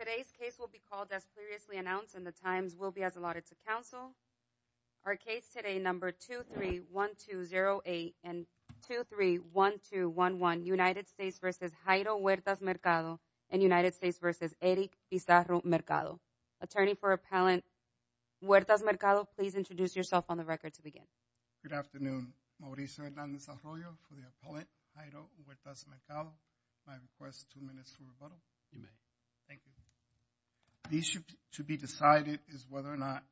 Today's case will be called as previously announced and the times will be as allotted to counsel. Our case today, number 231208 and 231211 United States versus Jairo Huertas-Mercado and United States versus Eric Pizarro-Mercado. Attorney for appellant Huertas-Mercado, please introduce yourself on the record to begin. Good afternoon, Mauricio Hernandez Arroyo for the appellant, Jairo Huertas-Mercado. I request two minutes for rebuttal. You may. Thank you. The issue to be decided is whether or not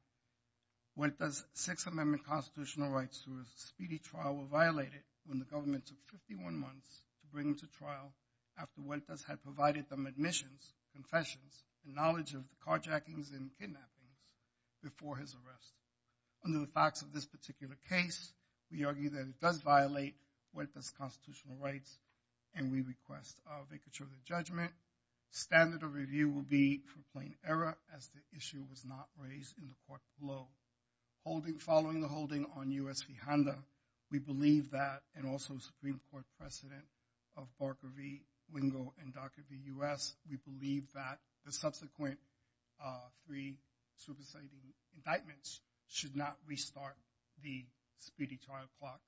Huertas' Sixth Amendment constitutional rights to a speedy trial were violated when the government took 51 months to bring him to trial after Huertas had provided them admissions, confessions, and knowledge of carjackings and kidnappings before his arrest. Under the facts of this particular case, we argue that it does violate Huertas' constitutional rights and we request a vacature of the judgment. Standard of review will be for plain error as the issue was not raised in the court below. Following the holding on U.S. v. Honda, we believe that and also Supreme Court precedent of Barker v. Wingo and Ducker v. U.S., we believe that the subsequent three superseding indictments should not restart the speedy trial clock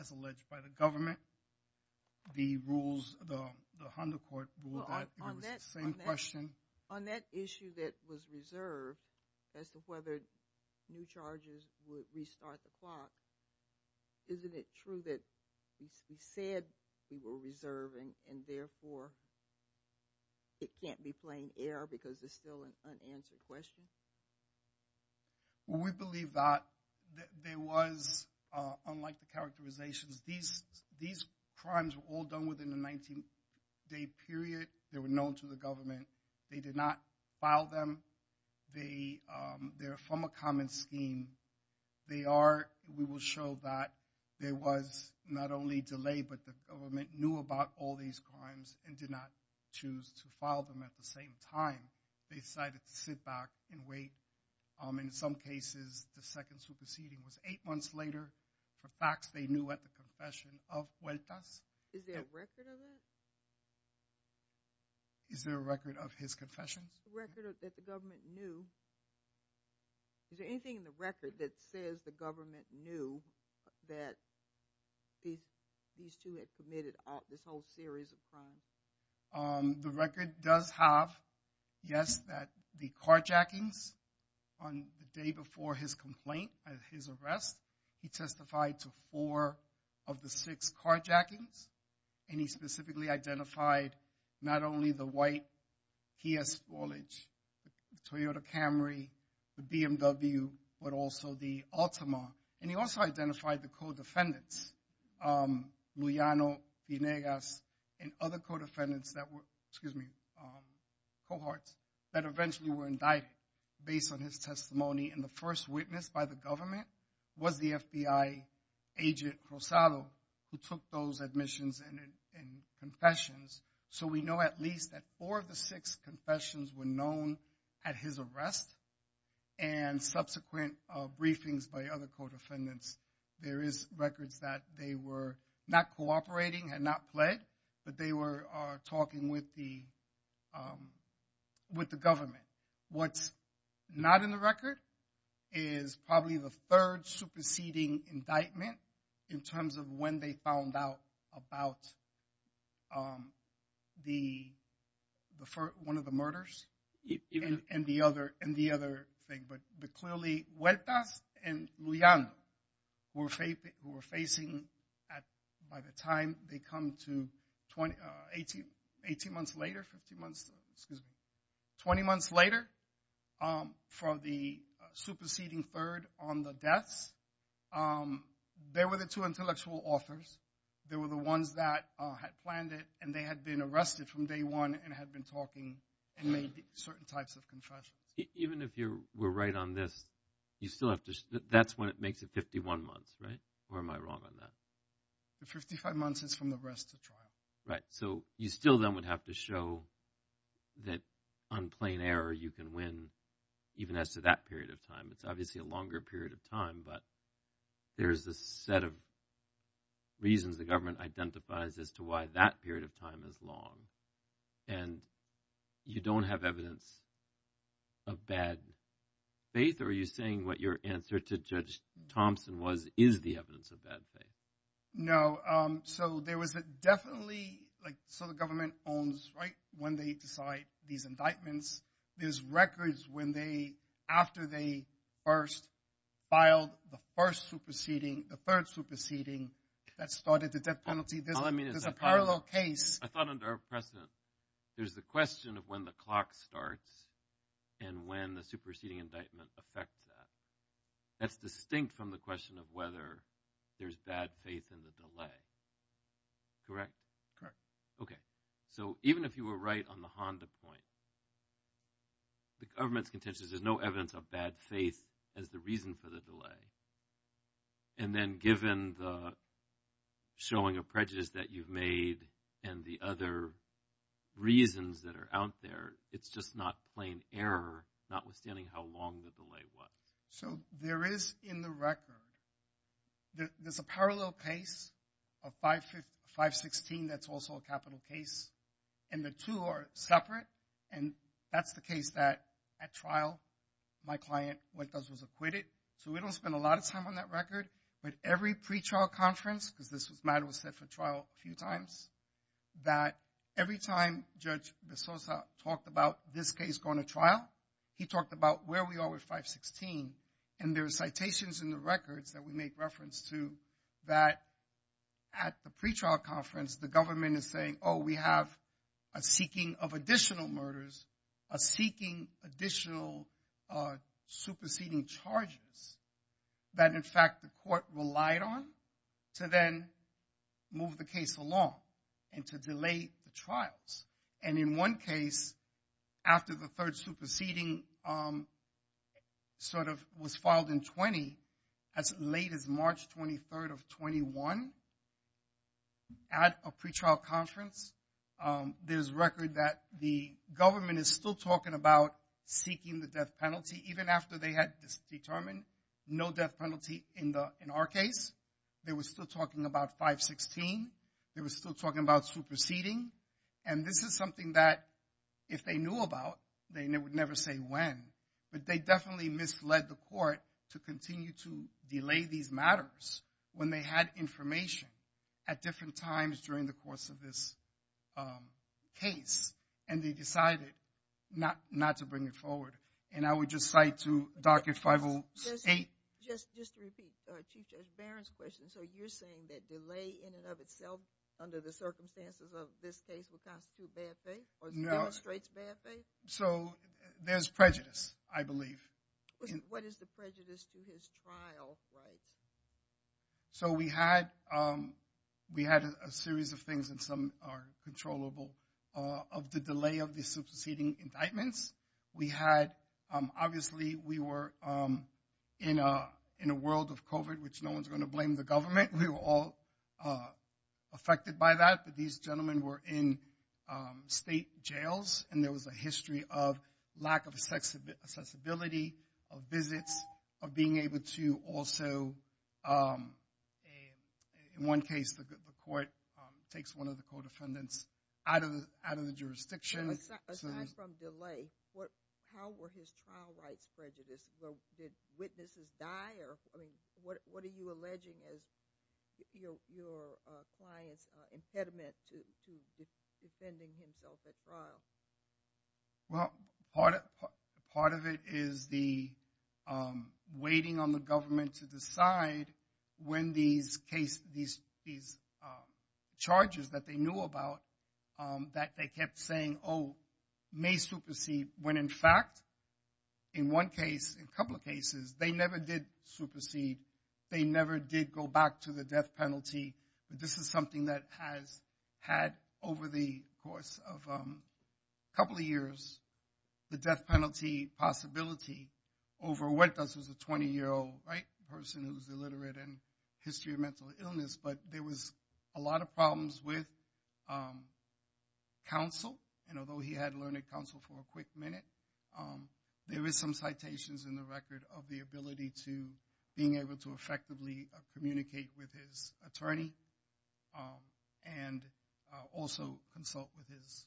as alleged by the government. The rules, the Honda court ruled that it was the same question. On that issue that was reserved as to whether new charges would restart the clock, isn't it true that he said we were reserving and therefore it can't be plain error because it's still an unanswered question? We believe that there was, unlike the characterizations, these crimes were all done within the 19-day period, they were known to the government, they did not file them, they are from a common scheme. They are, we will show that there was not only delay, but the government knew about all these crimes and did not choose to file them at the same time. They decided to sit back and wait, in some cases the second superseding was eight months later for facts they knew at the confession of Huertas. Is there a record of that? Is there a record of his confessions? The record that the government knew, is there anything in the record that says the government knew that these two had committed this whole series of crimes? The record does have, yes, that the carjackings on the day before his complaint, his arrest, he testified to four of the six carjackings and he specifically identified not only the white Kia Sportage, the Toyota Camry, the BMW, but also the Altima, and he also identified the co-defendants, Lujano, Pinegas, and other co-defendants that were, excuse me, cohorts, that eventually were indicted based on his testimony and the first witness by the government was the FBI agent Rosado, who took those admissions and confessions, so we know at least that four of the six confessions were known at his arrest and subsequent briefings by other co-defendants, there is records that they were not cooperating, had not pled, but they were talking with the government. What's not in the record is probably the third superseding indictment in terms of when they found out about one of the murders and the other thing, but clearly Huertas and Lujano were facing, by the time they come to, 18 months later, 15 months, excuse me, 20 months later, for the superseding third on the deaths, they were the two intellectual authors, they were the ones that had planned it and they had been arrested from day one and had been talking and made certain types of confessions. Even if you were right on this, you still have to, that's when it makes it 51 months, right? Or am I wrong on that? The 55 months is from the arrest to trial. Right, so you still then would have to show that on plain error you can win even as to that period of time. It's obviously a longer period of time, but there's a set of reasons the government identifies as to why that period of time is long and you don't have evidence of bad faith or are you saying what your answer to Judge Thompson was is the evidence of bad faith? No, so there was definitely, so the government owns, right, when they decide these indictments, there's records when they, after they first filed the first superseding, the third superseding that started the death penalty, there's a parallel case. I thought under a precedent, there's the question of when the clock starts and when the superseding indictment affects that. That's distinct from the question of whether there's bad faith in the delay, correct? Okay, so even if you were right on the Honda point, the government's contention is there's no evidence of bad faith as the reason for the delay and then given the showing of prejudice that you've made and the other reasons that are out there, it's just not plain error not withstanding how long the delay was. So there is in the record, there's a parallel case of 516 that's also a capital case and the two are separate and that's the case that at trial, my client, what it does was acquit it so we don't spend a lot of time on that record but every pre-trial conference, because this matter was set for trial a few times, that every time Judge Bezosa talked about this case going to trial, he talked about where we are with 516 and there are citations in the records that we make reference to that at the pre-trial conference, the government is saying, oh, we have a seeking of additional murders, a seeking additional superseding charges that in fact the court relied on to then move the case along and to delay the trials and in one case, after the third superseding sort of was filed in 20 as late as March 23rd of 21, at a pre-trial conference, there's record that the government is still talking about seeking the death penalty even after they had determined no death penalty in our case, they were still talking about 516, they were still talking about superseding and this is something that if they knew about, they would never say when but they definitely misled the court to continue to delay these matters when they had information at different times during the course of this case and they decided not to bring it forward and I would just cite to docket 508. Just to repeat Chief Judge Barron's question, so you're saying that delay in and of itself under the circumstances of this case would constitute bad faith or demonstrates bad faith? So there's prejudice, I believe. What is the prejudice to his trial rights? So we had a series of things and some are controllable of the delay of the superseding indictments. We had, obviously we were in a world of COVID which no one's going to blame the government, we were all affected by that but these gentlemen were in state jails and there was a history of lack of accessibility of visits, of being able to also, in one case the court takes one of the co-defendants out of the jurisdiction. Aside from delay, how were his trial rights prejudiced? Did witnesses die or, I mean, what are you alleging as your client's impediment to defending himself at trial? Well, part of it is the waiting on the government to decide when these charges that they knew about that they kept saying, oh, may supersede when in fact, in one case, a couple of cases, they never did supersede. They never did go back to the death penalty. But this is something that has had, over the course of a couple of years, the death penalty possibility over what does a 20-year-old person who's illiterate and history of mental illness but there was a lot of problems with counsel and although he had learned counsel for a quick minute, there is some citations in the record of the ability to being able to effectively communicate with his attorney and also consult with his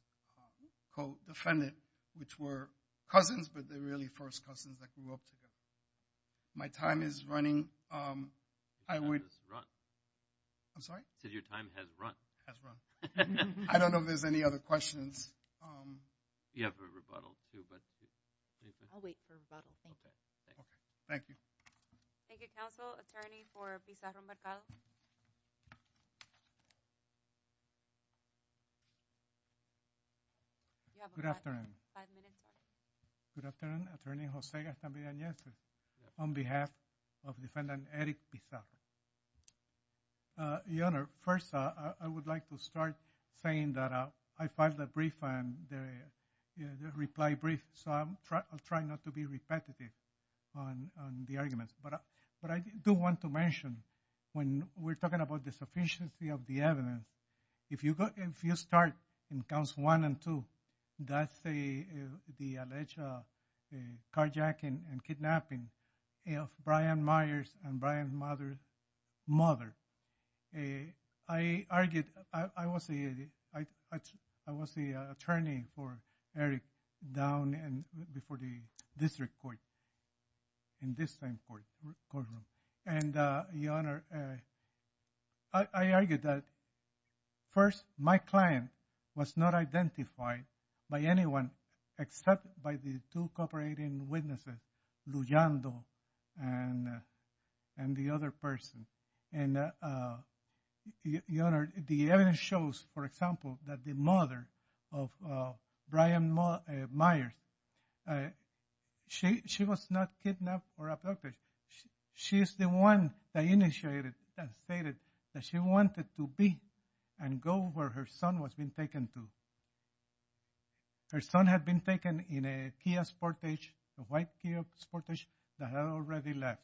co-defendant, which were cousins but they're really first cousins that grew up together. My time is running. I would... I'm sorry? You said your time has run. Has run. I don't know if there's any other questions. You have a rebuttal, too, but... I'll wait for a rebuttal. Okay. Thank you. Thank you, counsel. Attorney for Pizarro-Mercado. Good afternoon. Five minutes. Good afternoon. Attorney Jose Gaston Villanueva on behalf of defendant Eric Pizarro. Your Honor, first, I would like to start saying that I filed a brief and the reply brief, so I'll try not to be repetitive on the arguments. But I do want to mention when we're talking about the sufficiency of the evidence, if you go... If you start in counts one and two, that's the alleged carjacking and kidnapping of Brian Myers and Brian's mother. I argued... I was the attorney for Eric down before the district court in this time courtroom. And, Your Honor, I argued that first, my client was not identified by anyone except by the two cooperating witnesses, Lujando and the other person. And, Your Honor, the evidence shows, for example, that the mother of Brian Myers, she was not kidnapped or abducted. She is the one that initiated and stated that she wanted to be and go where her son was being taken to. Her son had been taken in a Kia Sportage, a white Kia Sportage that had already left.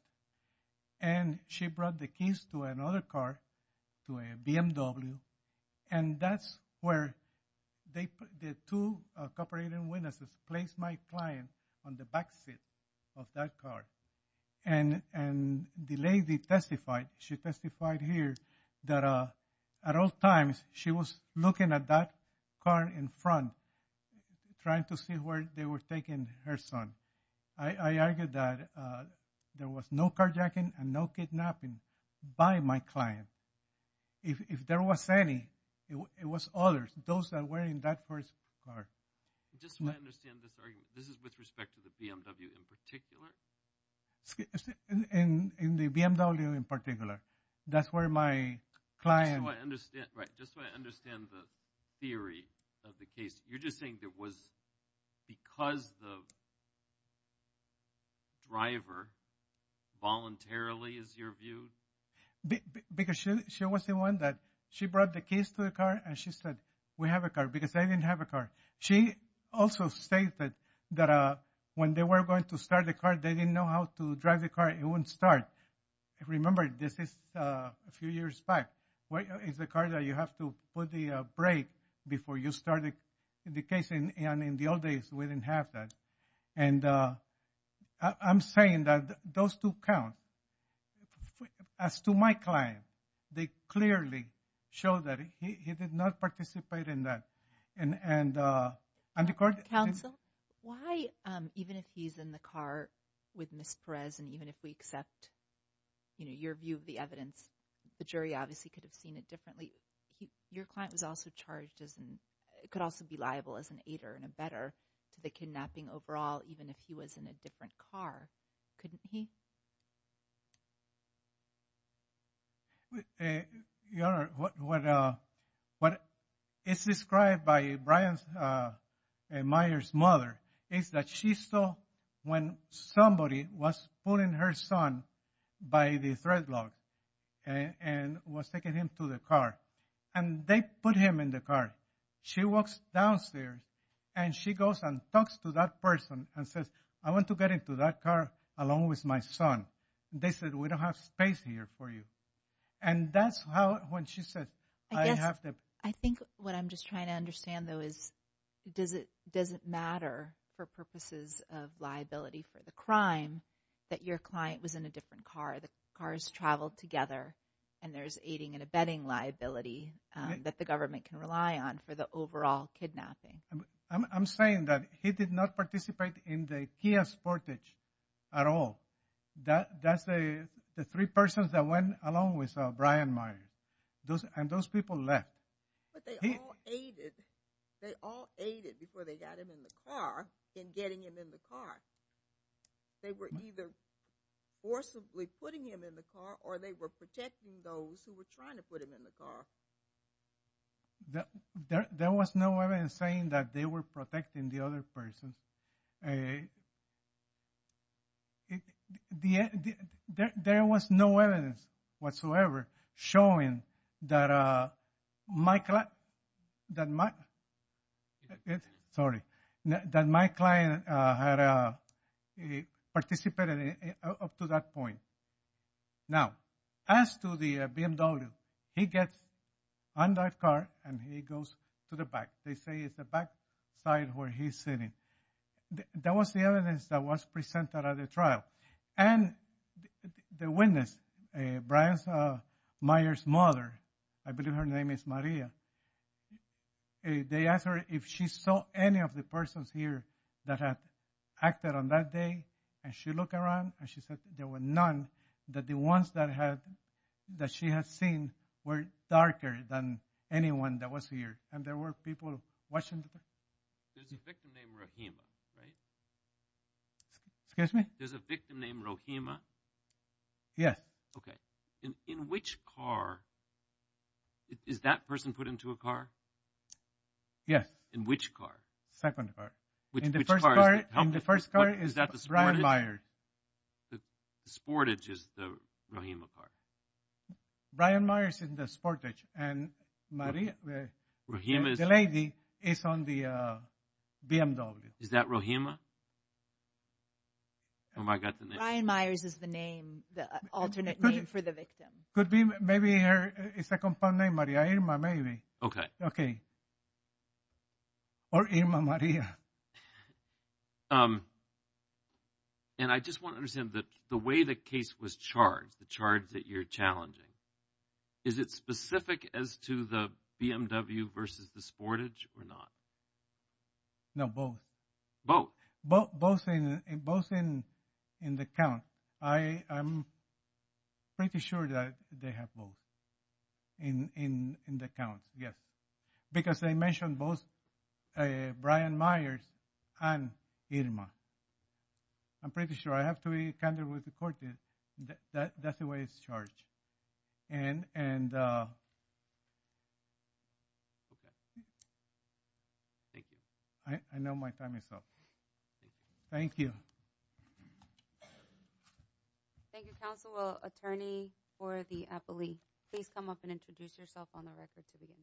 And she brought the keys to another car, to a BMW, and that's where the two cooperating witnesses placed my client on the backseat of that car. And the lady testified, she testified here, that at all times, she was looking at that car in front, trying to see where they were taking her son. I argued that there was no carjacking and no kidnapping by my client. If there was any, it was others, those that were in that first car. Just so I understand this argument, this is with respect to the BMW in particular? In the BMW in particular. That's where my client... Just so I understand, right, just so I understand the theory of the case. You're just saying it was because the driver voluntarily, is your view? Because she was the one that, she brought the keys to the car and she said, we have a car. Because they didn't have a car. She also stated that when they were going to start the car, they didn't know how to drive the car. It wouldn't start. Remember, this is a few years back. It's the car that you have to put the brake before you start it. In the case, in the old days, we didn't have that. And I'm saying that those two count. As to my client, they clearly show that he did not participate in that. Counsel, why, even if he's in the car with Ms. Perez, and even if we accept your view of the evidence, the jury obviously could have seen it differently. Your client was also charged as, could also be liable as an aider and abetter to the kidnapping overall, even if he was in a different car. Couldn't he? Your Honor, what is described by Brian Meyer's mother is that she saw when somebody was pulling her son by the thread lock and was taking him to the car. And they put him in the car. She walks downstairs and she goes and talks to that person and says, I want to get into that car along with my son. They said, we don't have space here for you. And that's how, when she said, I have to. I think what I'm just trying to understand though is, does it matter for purposes of liability for the crime that your client was in a different car? The cars traveled together and there's aiding and abetting liability that the government can rely on for the overall kidnapping. I'm saying that he did not participate in the Kia Sportage at all. That's the three persons that went along with Brian Meyer. And those people left. But they all aided. They all aided before they got him in the car in getting him in the car. They were either forcibly putting him in the car or they were protecting those who were trying to put him in the car. There was no evidence saying that they were protecting the other persons. There was no evidence whatsoever showing that my client had participated up to that point. Now, as to the BMW, he gets in that car and he goes to the back. They say it's the back side where he's sitting. That was the evidence that was presented at the trial. And the witness, Brian Meyer's mother, I believe her name is Maria, they asked her if she saw any of the persons here that had acted on that day. And she looked around and she said there were none that the ones that she had seen were darker than anyone that was here. And there were people watching. There's a victim named Rojima, right? Excuse me? There's a victim named Rojima? Yes. Okay. In which car, is that person put into a car? Yes. In which car? Second car. Which car is that? In the first car is Brian Meyer. The Sportage is the Rojima car? Brian Meyer is in the Sportage. And Maria, the lady, is on the BMW. Is that Rojima? Brian Meyer is the name, the alternate name for the victim. Could be. Maybe it's a compound name, Maria Irma, maybe. Okay. Okay. Or Irma Maria. And I just want to understand that the way the case was charged, the charge that you're challenging, is it specific as to the BMW versus the Sportage or not? No, both. Both in the count. I'm pretty sure that they have both in the count, yes. Because they mentioned both Brian Meyers and Irma. I'm pretty sure. I have to be candid with the court that that's the way it's charged. And... Thank you. I know my time is up. Thank you. Thank you, Counselor, Attorney for the appellee. Please come up and introduce yourself on the record to begin.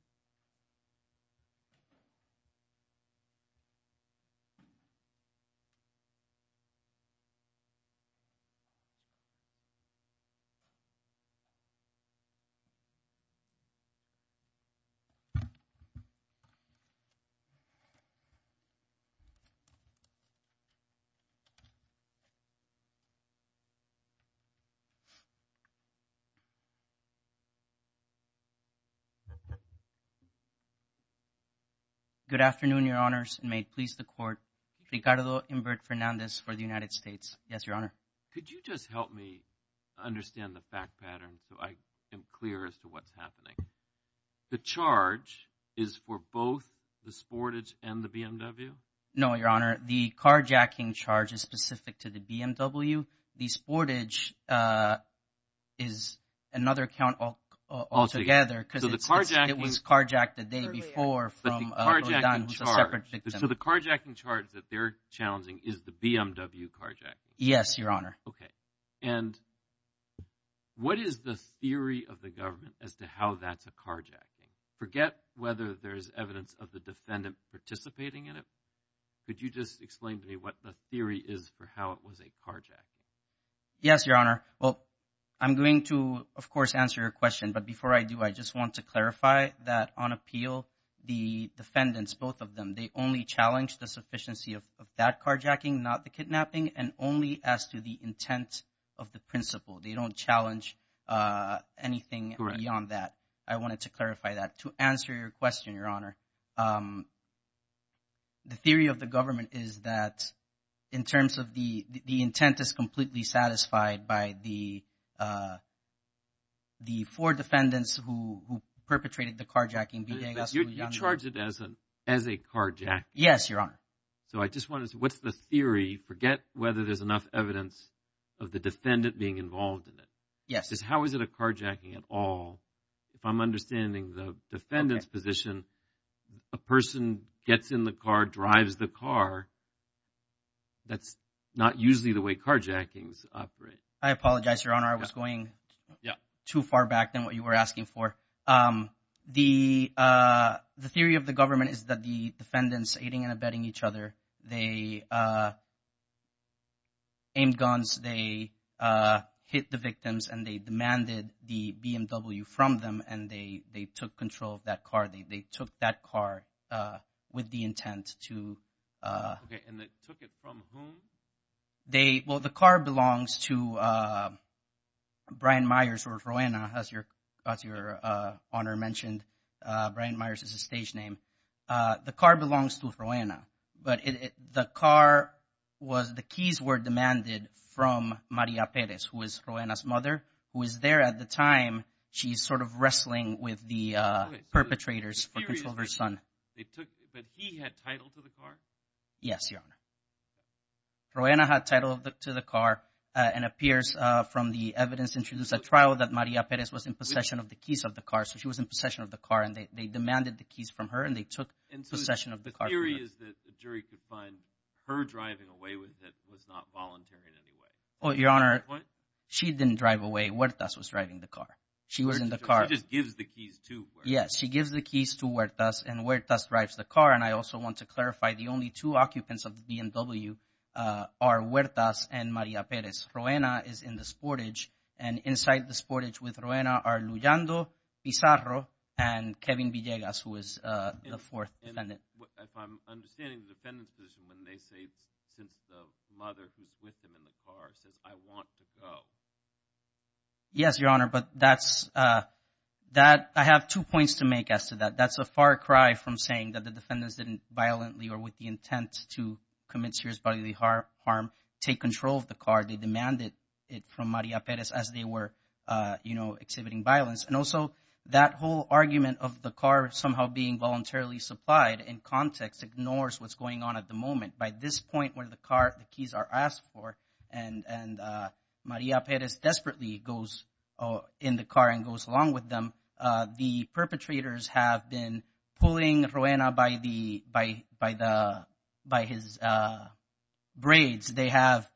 Good afternoon, Your Honors. May it please the court. Ricardo Invert Fernandez for the United States. Yes, Your Honor. Could you just help me understand the fact pattern so I am clear as to what's happening? The charge is for both the Sportage and the BMW? No, Your Honor. The carjacking charge is specific to the BMW. The Sportage is another count altogether because it was carjacked the day before from a separate victim. So the carjacking charge that they're challenging is the BMW carjacking? Yes, Your Honor. Okay. And what is the theory of the government as to how that's a carjacking? Forget whether there is evidence of the defendant participating in it. Could you just explain to me what the theory is for how it was a carjacking? Yes, Your Honor. Well, I'm going to, of course, answer your question. But before I do, I just want to clarify that on appeal, the defendants, both of them, they only challenged the sufficiency of that carjacking, not the kidnapping, and only as to the intent of the principle. They don't challenge anything beyond that. I wanted to clarify that. To answer your question, Your Honor, the theory of the government is that in terms of the intent is completely satisfied by the four defendants who perpetrated the carjacking. You charge it as a carjacking? Yes, Your Honor. So I just want to say, what's the theory? Forget whether there's enough evidence of the defendant being involved in it. Yes. Just how is it a carjacking at all? If I'm understanding the defendant's position, a person gets in the car, drives the car, that's not usually the way carjackings operate. I apologize, Your Honor. I was going too far back than what you were asking for. The theory of the government is that the defendants were cross-aiding and abetting each other. They aimed guns, they hit the victims, and they demanded the BMW from them, and they took control of that car. They took that car with the intent to... Okay, and they took it from whom? Well, the car belongs to Brian Myers or Rowena, as Your Honor mentioned. Brian Myers is his stage name. The car belongs to Rowena, but the keys were demanded from Maria Perez, who is Rowena's mother, who is there at the time she's sort of wrestling with the perpetrators for control of her son. But he had title to the car? Yes, Your Honor. Rowena had title to the car, and it appears from the evidence introduced at trial that Maria Perez was in possession of the keys of the car, so she was in possession of the car, and they demanded the keys from her, and they took possession of the car from her. And so the theory is that the jury could find her driving away with it was not voluntary in any way? Well, Your Honor... What? She didn't drive away. Huertas was driving the car. She was in the car. So she just gives the keys to Huertas? Yes, she gives the keys to Huertas, and Huertas drives the car. And I also want to clarify, the only two occupants of the BMW are Huertas and Maria Perez. Rowena is in the sportage, and inside the sportage with Rowena are Lujando, Pizarro, and Kevin Villegas, who is the fourth defendant. If I'm understanding the defendant's position, when they say, since the mother who's with them in the car says, I want to go. Yes, Your Honor, but that's... I have two points to make as to that. That's a far cry from saying that the defendants didn't violently or with the intent to commit serious bodily harm take control of the car. They demanded it from Maria Perez as they were, you know, exhibiting violence. And also that whole argument of the car somehow being voluntarily supplied in context ignores what's going on at the moment. By this point where the car, the keys are asked for, and Maria Perez desperately goes in the car and goes along with them, the perpetrators have been pulling Rowena by his braids. They have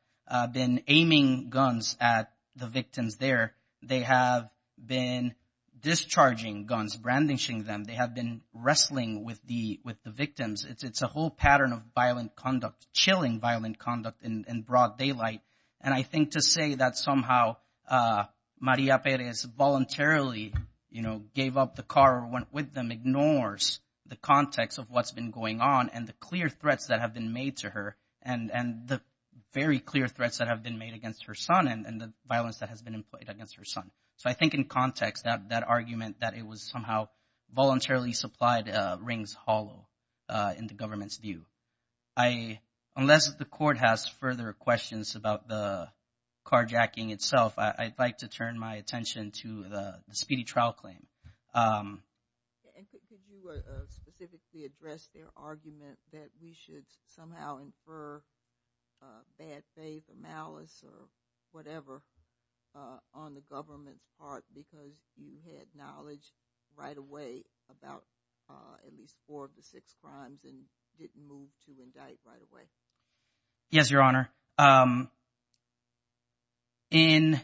been aiming guns at the victims there. They have been discharging guns, brandishing them. They have been wrestling with the victims. It's a whole pattern of violent conduct, chilling violent conduct in broad daylight. And I think to say that somehow Maria Perez voluntarily, you know, gave up the car, went with them, ignores the context of what's been going on and the clear threats that have been made to her and the very clear threats that have been made against her son and the violence that has been employed against her son. So I think in context, that argument that it was somehow voluntarily supplied rings hollow in the government's view. Unless the court has further questions about the carjacking itself, I'd like to turn my attention to the speedy trial claim. And could you specifically address their argument that we should somehow infer bad faith or malice or whatever on the government's part because you had knowledge right away about at least four of the six crimes and didn't move to indict right away? Yes, Your Honor. In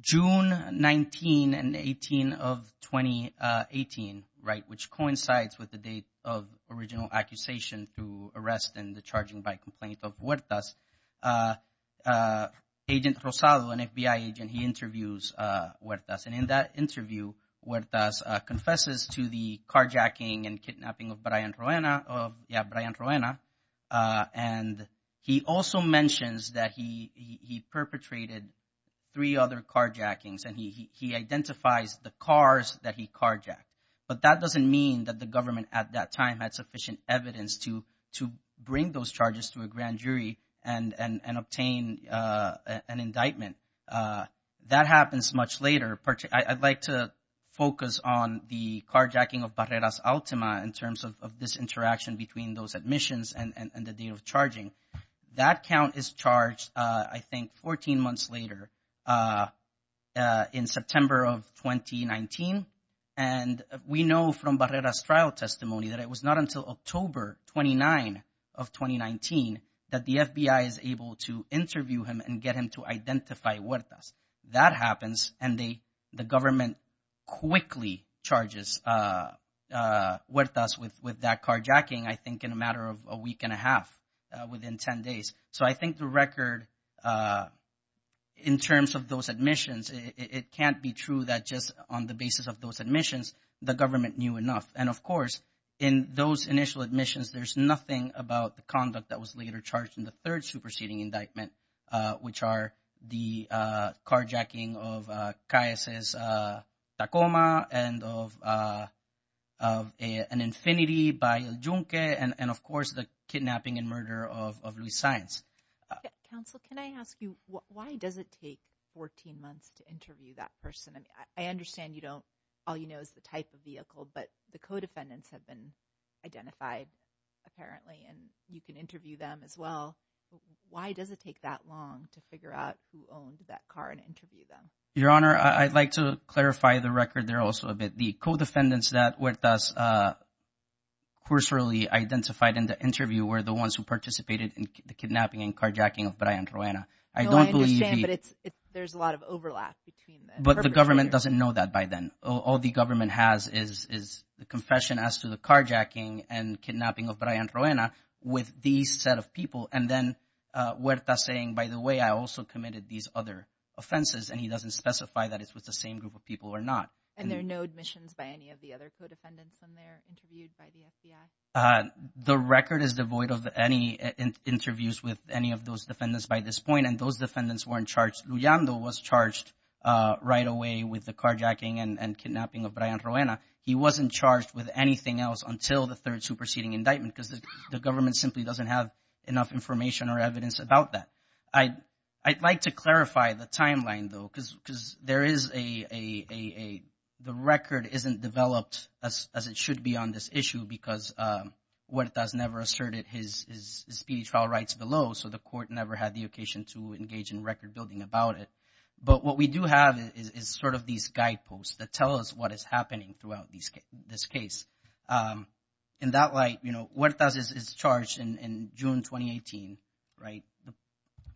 June 19 and 18 of 2018, right, which coincides with the date of the original accusation to arrest and the charging by complaint of Huertas, Agent Rosado, an FBI agent, he interviews Huertas. And in that interview, Huertas confesses to the carjacking and kidnapping of Brian Roena. And he also mentions that he perpetrated three other carjackings and he identifies the cars that he carjacked. But that doesn't mean that the government at that time had sufficient evidence to bring those charges to a grand jury and obtain an indictment. That happens much later. I'd like to focus on the carjacking of Barreras-Ultima in terms of this interaction between those admissions and the date of charging. That count is charged, I think, 14 months later in September of 2019. And we know from Barrera's trial testimony that it was not until October 29 of 2019 that the FBI is able to interview him and get him to identify Huertas. That happens and the government quickly charges Huertas with that carjacking, I think, in a matter of a week and a half within 10 days. So I think the record, in terms of those admissions, it can't be true that just on the basis of those admissions, the government knew enough. And, of course, in those initial admissions, there's nothing about the conduct that was later charged in the third superseding indictment, which are the carjacking of Calles' Tacoma and of an Infiniti by El Junque and, of course, the kidnapping and murder of Luis Saenz. Counsel, can I ask you, why does it take 14 months to interview that person? I understand you don't, all you know is the type of vehicle, but the co-defendants have been identified, apparently, and you can interview them as well. Why does it take that long to figure out who owned that car and interview them? Your Honor, I'd like to clarify the record there also a bit. The co-defendants that Huertas cursorily identified in the interview were the ones who participated in the kidnapping and carjacking of Brian Ruana. No, I understand, but there's a lot of overlap between the perpetrators. But the government doesn't know that by then. All the government has is the confession as to the carjacking and kidnapping of Brian Ruana with these set of people and then Huertas saying, by the way, I also committed these other offenses and he doesn't specify that it was the same group of people or not. And there are no admissions by any of the other co-defendants when they're interviewed by the FBI? The record is devoid of any interviews with any of those defendants by this point and those defendants weren't charged. Huertas Lullando was charged right away with the carjacking and kidnapping of Brian Ruana. He wasn't charged with anything else until the third superseding indictment because the government simply doesn't have enough information or evidence about that. I'd like to clarify the timeline, though, because there is a, the record isn't developed as it should be on this issue because Huertas never asserted his speedy trial rights below, so the court never had the occasion to engage in record building about it. But what we do have is sort of these guideposts that tell us what is happening throughout this case. In that light, you know, Huertas is charged in June 2018, right? The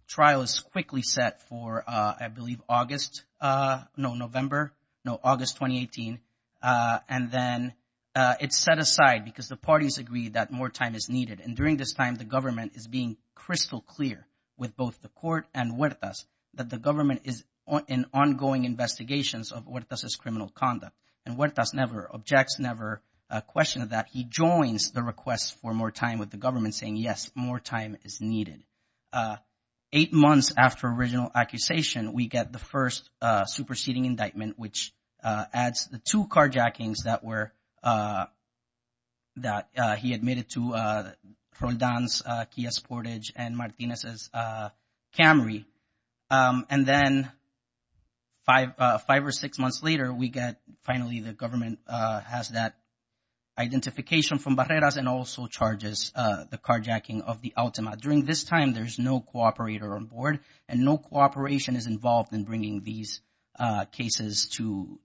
trial is quickly set for, I believe, August, no, November, no, August 2018, and then it's set aside because the parties agree that more time is needed and during this time the government is being crystal clear with both the court and Huertas that the government is in ongoing investigations of Huertas' criminal conduct. And Huertas never, objects never, questioned that. He joins the request for more time with the government saying, yes, more time is needed. Eight months after original accusation, we get the first superseding indictment which adds the two carjackings that were, that he admitted to Roldan's Kia Sportage and Martinez's Camry. And then we get and then five, five or six months later, we get, the government has that identification from Barreras and also charges the carjacking of the Altima. During this time, there's no cooperator on board and no cooperation is involved in bringing these cases to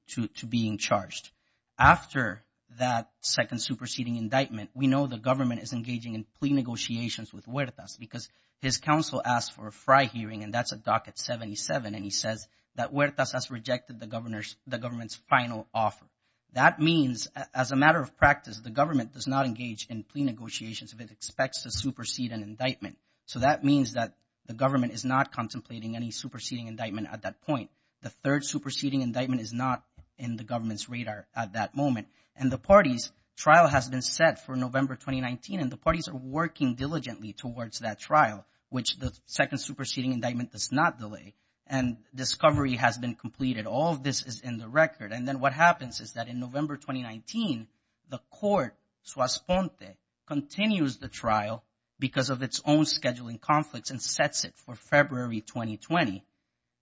being charged. After that second superseding indictment, we know the government is engaging in plea negotiations with Huertas because his counsel asked for a fry hearing and that's a docket 77. And he says that Huertas has rejected the governor's, the government's final offer. That means as a matter of practice, the government does not engage in plea negotiations if it expects to supersede an indictment. So that means that the government is not contemplating any superseding indictment at that point. The third superseding indictment is not in the government's radar at that moment. And the parties, trial has been set for November 2019 and the parties are working diligently towards that trial which the second superseding indictment does not delay. And discovery has been completed. All of this is in the record. And then what happens is that in November 2019, the court, Suas-Fonte, continues the trial because of its own scheduling conflicts and sets it for February 2020.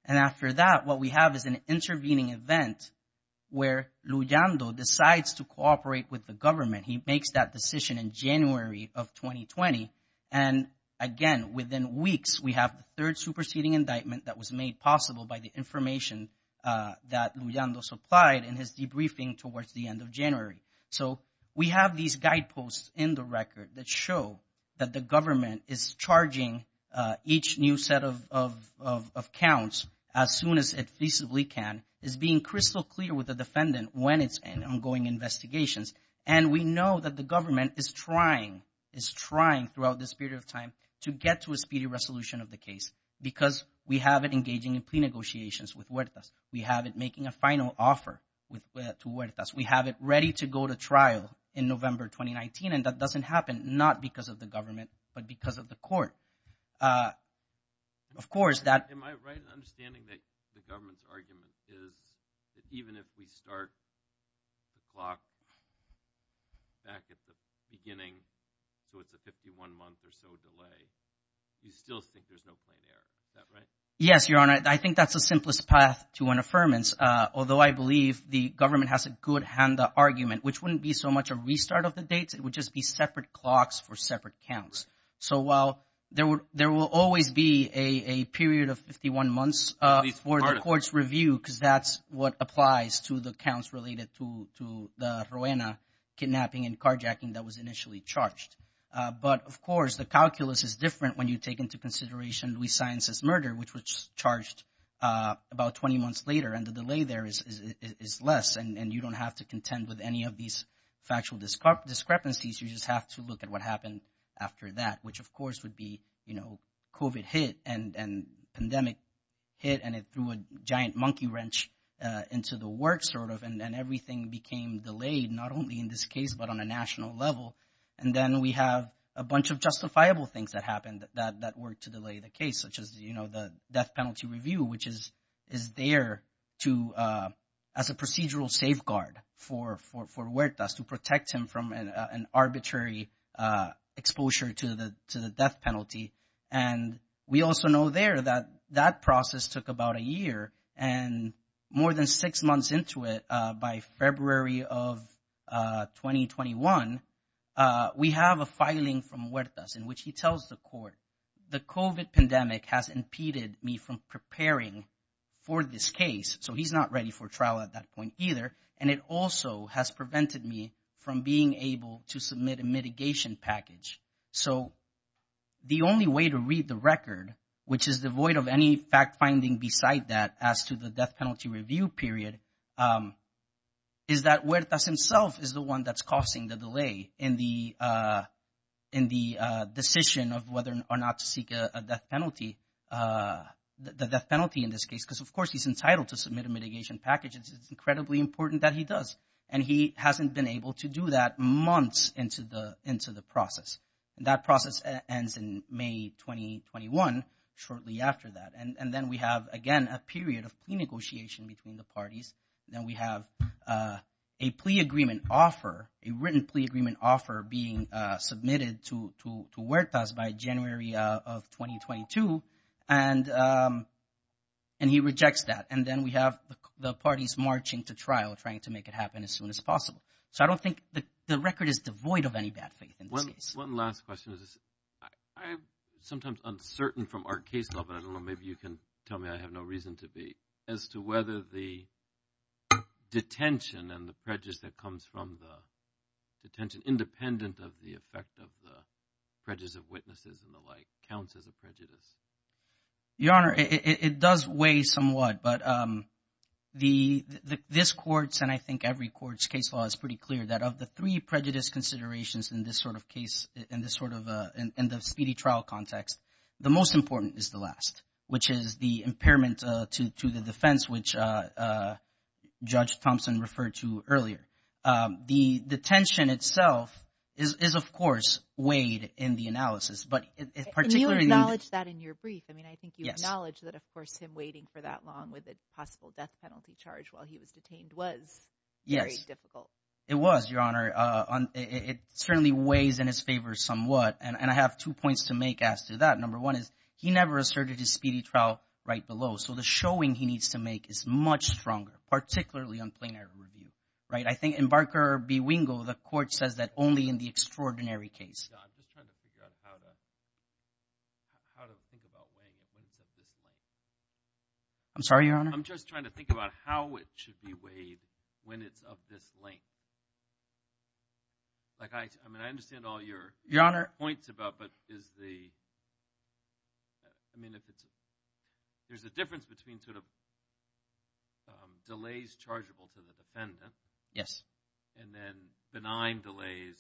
And after that, what we have is an intervening event where Luyando decides to cooperate with the government. He makes that decision in January of 2020. And again, within weeks, we have the third superseding indictment that was made possible by the information that Luyando supplied in his debriefing towards the end of January. So, we have these guideposts in the record that show that the government is charging each new set of counts as soon as it feasibly can. It's being crystal clear with the defendant when it's in ongoing investigations. And we know that the government is trying, is trying throughout this period of time to get to a speedy resolution of the case because we have it engaging in plea negotiations with Huertas. We have it making a final offer to Huertas. We have it ready to go to trial in November 2019. And that doesn't happen not because of the government, but because of the court. Of course, that... Am I right in understanding that the government's argument is that even if we start the clock back at the beginning so it's a 51-month or so delay, you still think there's no plain error. Is that right? Yes, Your Honor. I think that's the simplest path to an affirmance. Although I believe the government has a good hand argument, which wouldn't be so much a restart of the dates. It would just be separate clocks for separate counts. So while there will always be a period of 51 months for the court's review because that's what applies to the counts related to the Ruena kidnapping and carjacking that was initially charged. But of course, the calculus is different when you take into consideration Luis Sainz's murder, which was charged about 20 months later and the delay there is less and you don't have to contend with any of these factual discrepancies. You just have to look at what happened after that, which of course would be COVID hit and pandemic hit and it threw a giant monkey wrench into the work sort of and everything became delayed, not only in this case, but on a national level. And then we have a bunch of justifiable things that happened that were to delay the case, such as the death penalty review, which is there as a procedural safeguard for Huertas to protect him from an arbitrary exposure to the death penalty. And we also know there that that process took about a year and more than six months into it, by February of 2021, we have a filing from Huertas in which he tells the court, the COVID pandemic has impeded me from preparing for this case. So he's not ready for trial at that point either. And it also has prevented me from being able to submit a mitigation package. So the only way to read the record, which is devoid of any fact finding beside that as to the death penalty review period, is that Huertas himself is the one that's causing the delay in the decision of whether or not to seek the death penalty in this case, because of course he's entitled to submit a mitigation package. It's incredibly important that he does. And he hasn't been able to do that months into the process. And that process ends in May 2021, shortly after that. And then we have, again, a period of plea negotiation between the parties. Then we have a plea agreement offer, a written plea agreement offer being submitted to Huertas by January of 2022. And he rejects that. And then we have the parties marching to trial, trying to make it happen as soon as possible. So I don't think the record is devoid of any bad faith in this case. One last question. I'm sometimes uncertain from our case level, and I don't know, maybe you can tell me I have no reason to be, as to whether the detention and the prejudice that comes from the detention, independent of the effect of the prejudice of witnesses and the like, counts as a prejudice. Your Honor, it does weigh somewhat. But this court's, and I think every court's, case law is pretty clear that of the three prejudice considerations in this sort of case, in the speedy trial context, the most important is the last, which is the impairment to the defense, which Judge Thompson referred to earlier. The detention itself is, of course, weighed in the analysis. And you acknowledge that in your brief. I mean, I think you acknowledge that, of course, him waiting for that long with a possible death penalty charge while he was detained was very difficult. It was, Your Honor. It certainly weighs in his favor somewhat. And I have two points to make as to that. Number one is, he never asserted his speedy trial right below. So the showing he needs to make is much stronger, particularly on plain error review. Right? I think in Barker v. Wingo, the court says that only in the extraordinary case. I'm just trying to figure out how to think about weighing it when it's of this length. I'm sorry, Your Honor. I'm just trying to think about how it should be weighed when it's of this length. I mean, I understand all your points about, but is the, I mean, if it's, there's a difference between sort of delays chargeable to the defendant. Yes. And then benign delays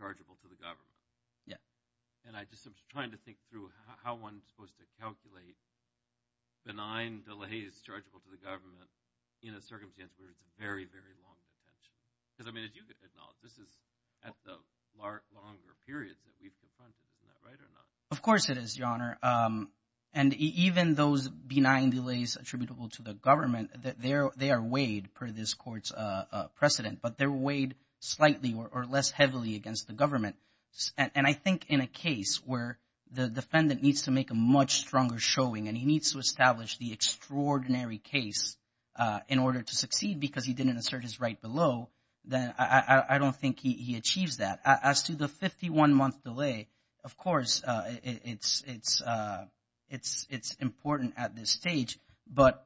chargeable to the government. Yeah. And I'm just trying to think through how one's supposed to calculate benign delays chargeable to the government in a circumstance where it's a very, very long detention. Because, I mean, as you acknowledge, this is at the longer periods that we've confronted. Is that right or not? Of course it is, Your Honor. And even those benign delays attributable to the government, they are weighed per this court's precedent, but they're weighed slightly or less heavily against the government. And I think in a case where the defendant needs to make a much stronger showing and he needs to establish the extraordinary case in order to succeed because he didn't assert his right below, then I don't think he achieves that. As to the 51-month delay, of course it's important at this stage, but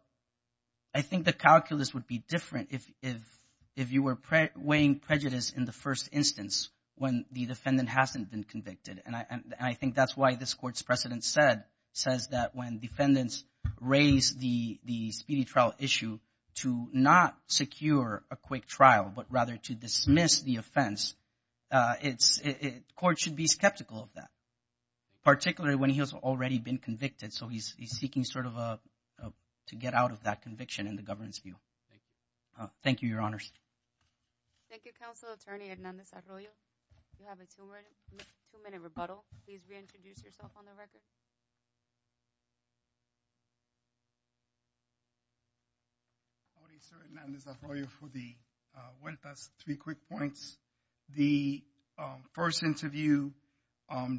I think the calculus would be different if you were weighing prejudice in the first instance when the defendant hasn't been convicted. And I think that's why this court's precedent says that when defendants raise the speedy trial issue to not secure a quick trial but rather to dismiss the offense court should be skeptical of that, particularly when he has already been convicted. So he's seeking sort of a to get out of that conviction in the government's view. Thank you, Your Honors. Thank you, Counselor Attorney Hernandez-Arroyo. You have a two-minute rebuttal. Please reintroduce yourself on the record. Howdy, Sir Hernandez-Arroyo Thank you for the three quick points. The first interview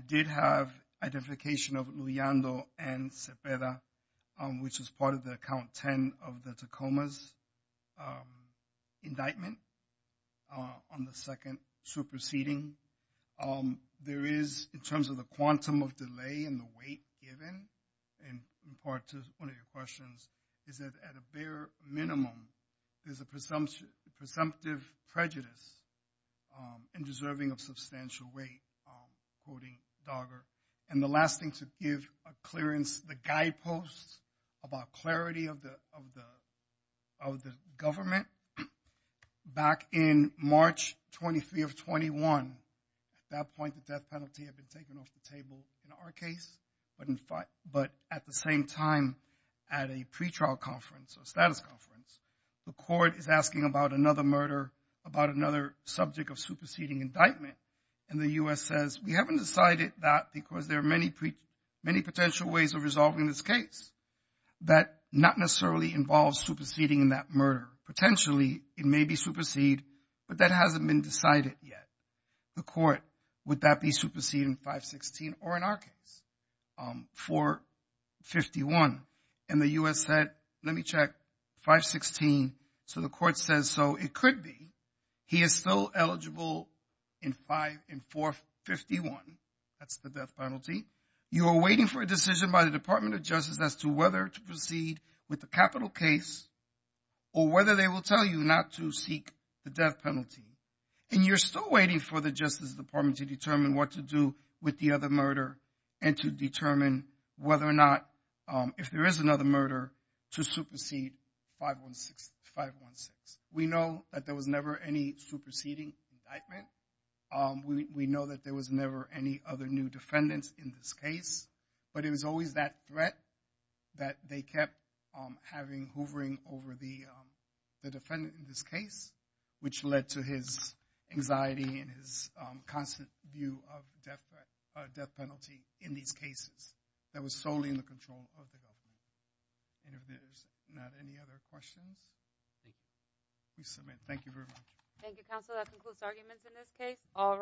did have identification of Luyando and Cepeda, which was part of the Count 10 of the Tacoma's indictment on the second superseding. There is, in terms of the quantum of delay and the weight given, in part to one of your questions, is that at a bare minimum, there's a presumptive prejudice in deserving of substantial weight, quoting Dogger. And the last thing to give a clearance, the guideposts about clarity of the government, back in March 23 of 21, at that point the death penalty had been taken off the table in our case, but at the same time at a pretrial conference, a status conference, the court is asking about another murder, about another subject of superseding indictment, and the U.S. says, we haven't decided that because there are many potential ways of resolving this case that not necessarily involves superseding in that murder. Potentially, it may be supersede, but that hasn't been decided yet. The court, would that be supersede in 516 or in our case, 451? And the U.S. said, let me check. 516, so the court says, so it could be. He is still eligible in 451. That's the death penalty. You are waiting for a decision by the Department of Justice as to whether to proceed with the capital case or whether they will tell you not to seek the death penalty. And you're still waiting for the Justice Department to determine what to do with the other murder and to determine whether or not if there is another murder to supersede 516. We know that there was never any superseding indictment. We know that there was never any other new defendants in this case, but it was always that threat that they kept having, hoovering over the defendant in this case, which led to his anxiety and his constant view of death penalty in these cases that was solely in the control of the government. And if there's not any other questions, please submit. Thank you very much. Thank you, counsel. That concludes arguments in this case.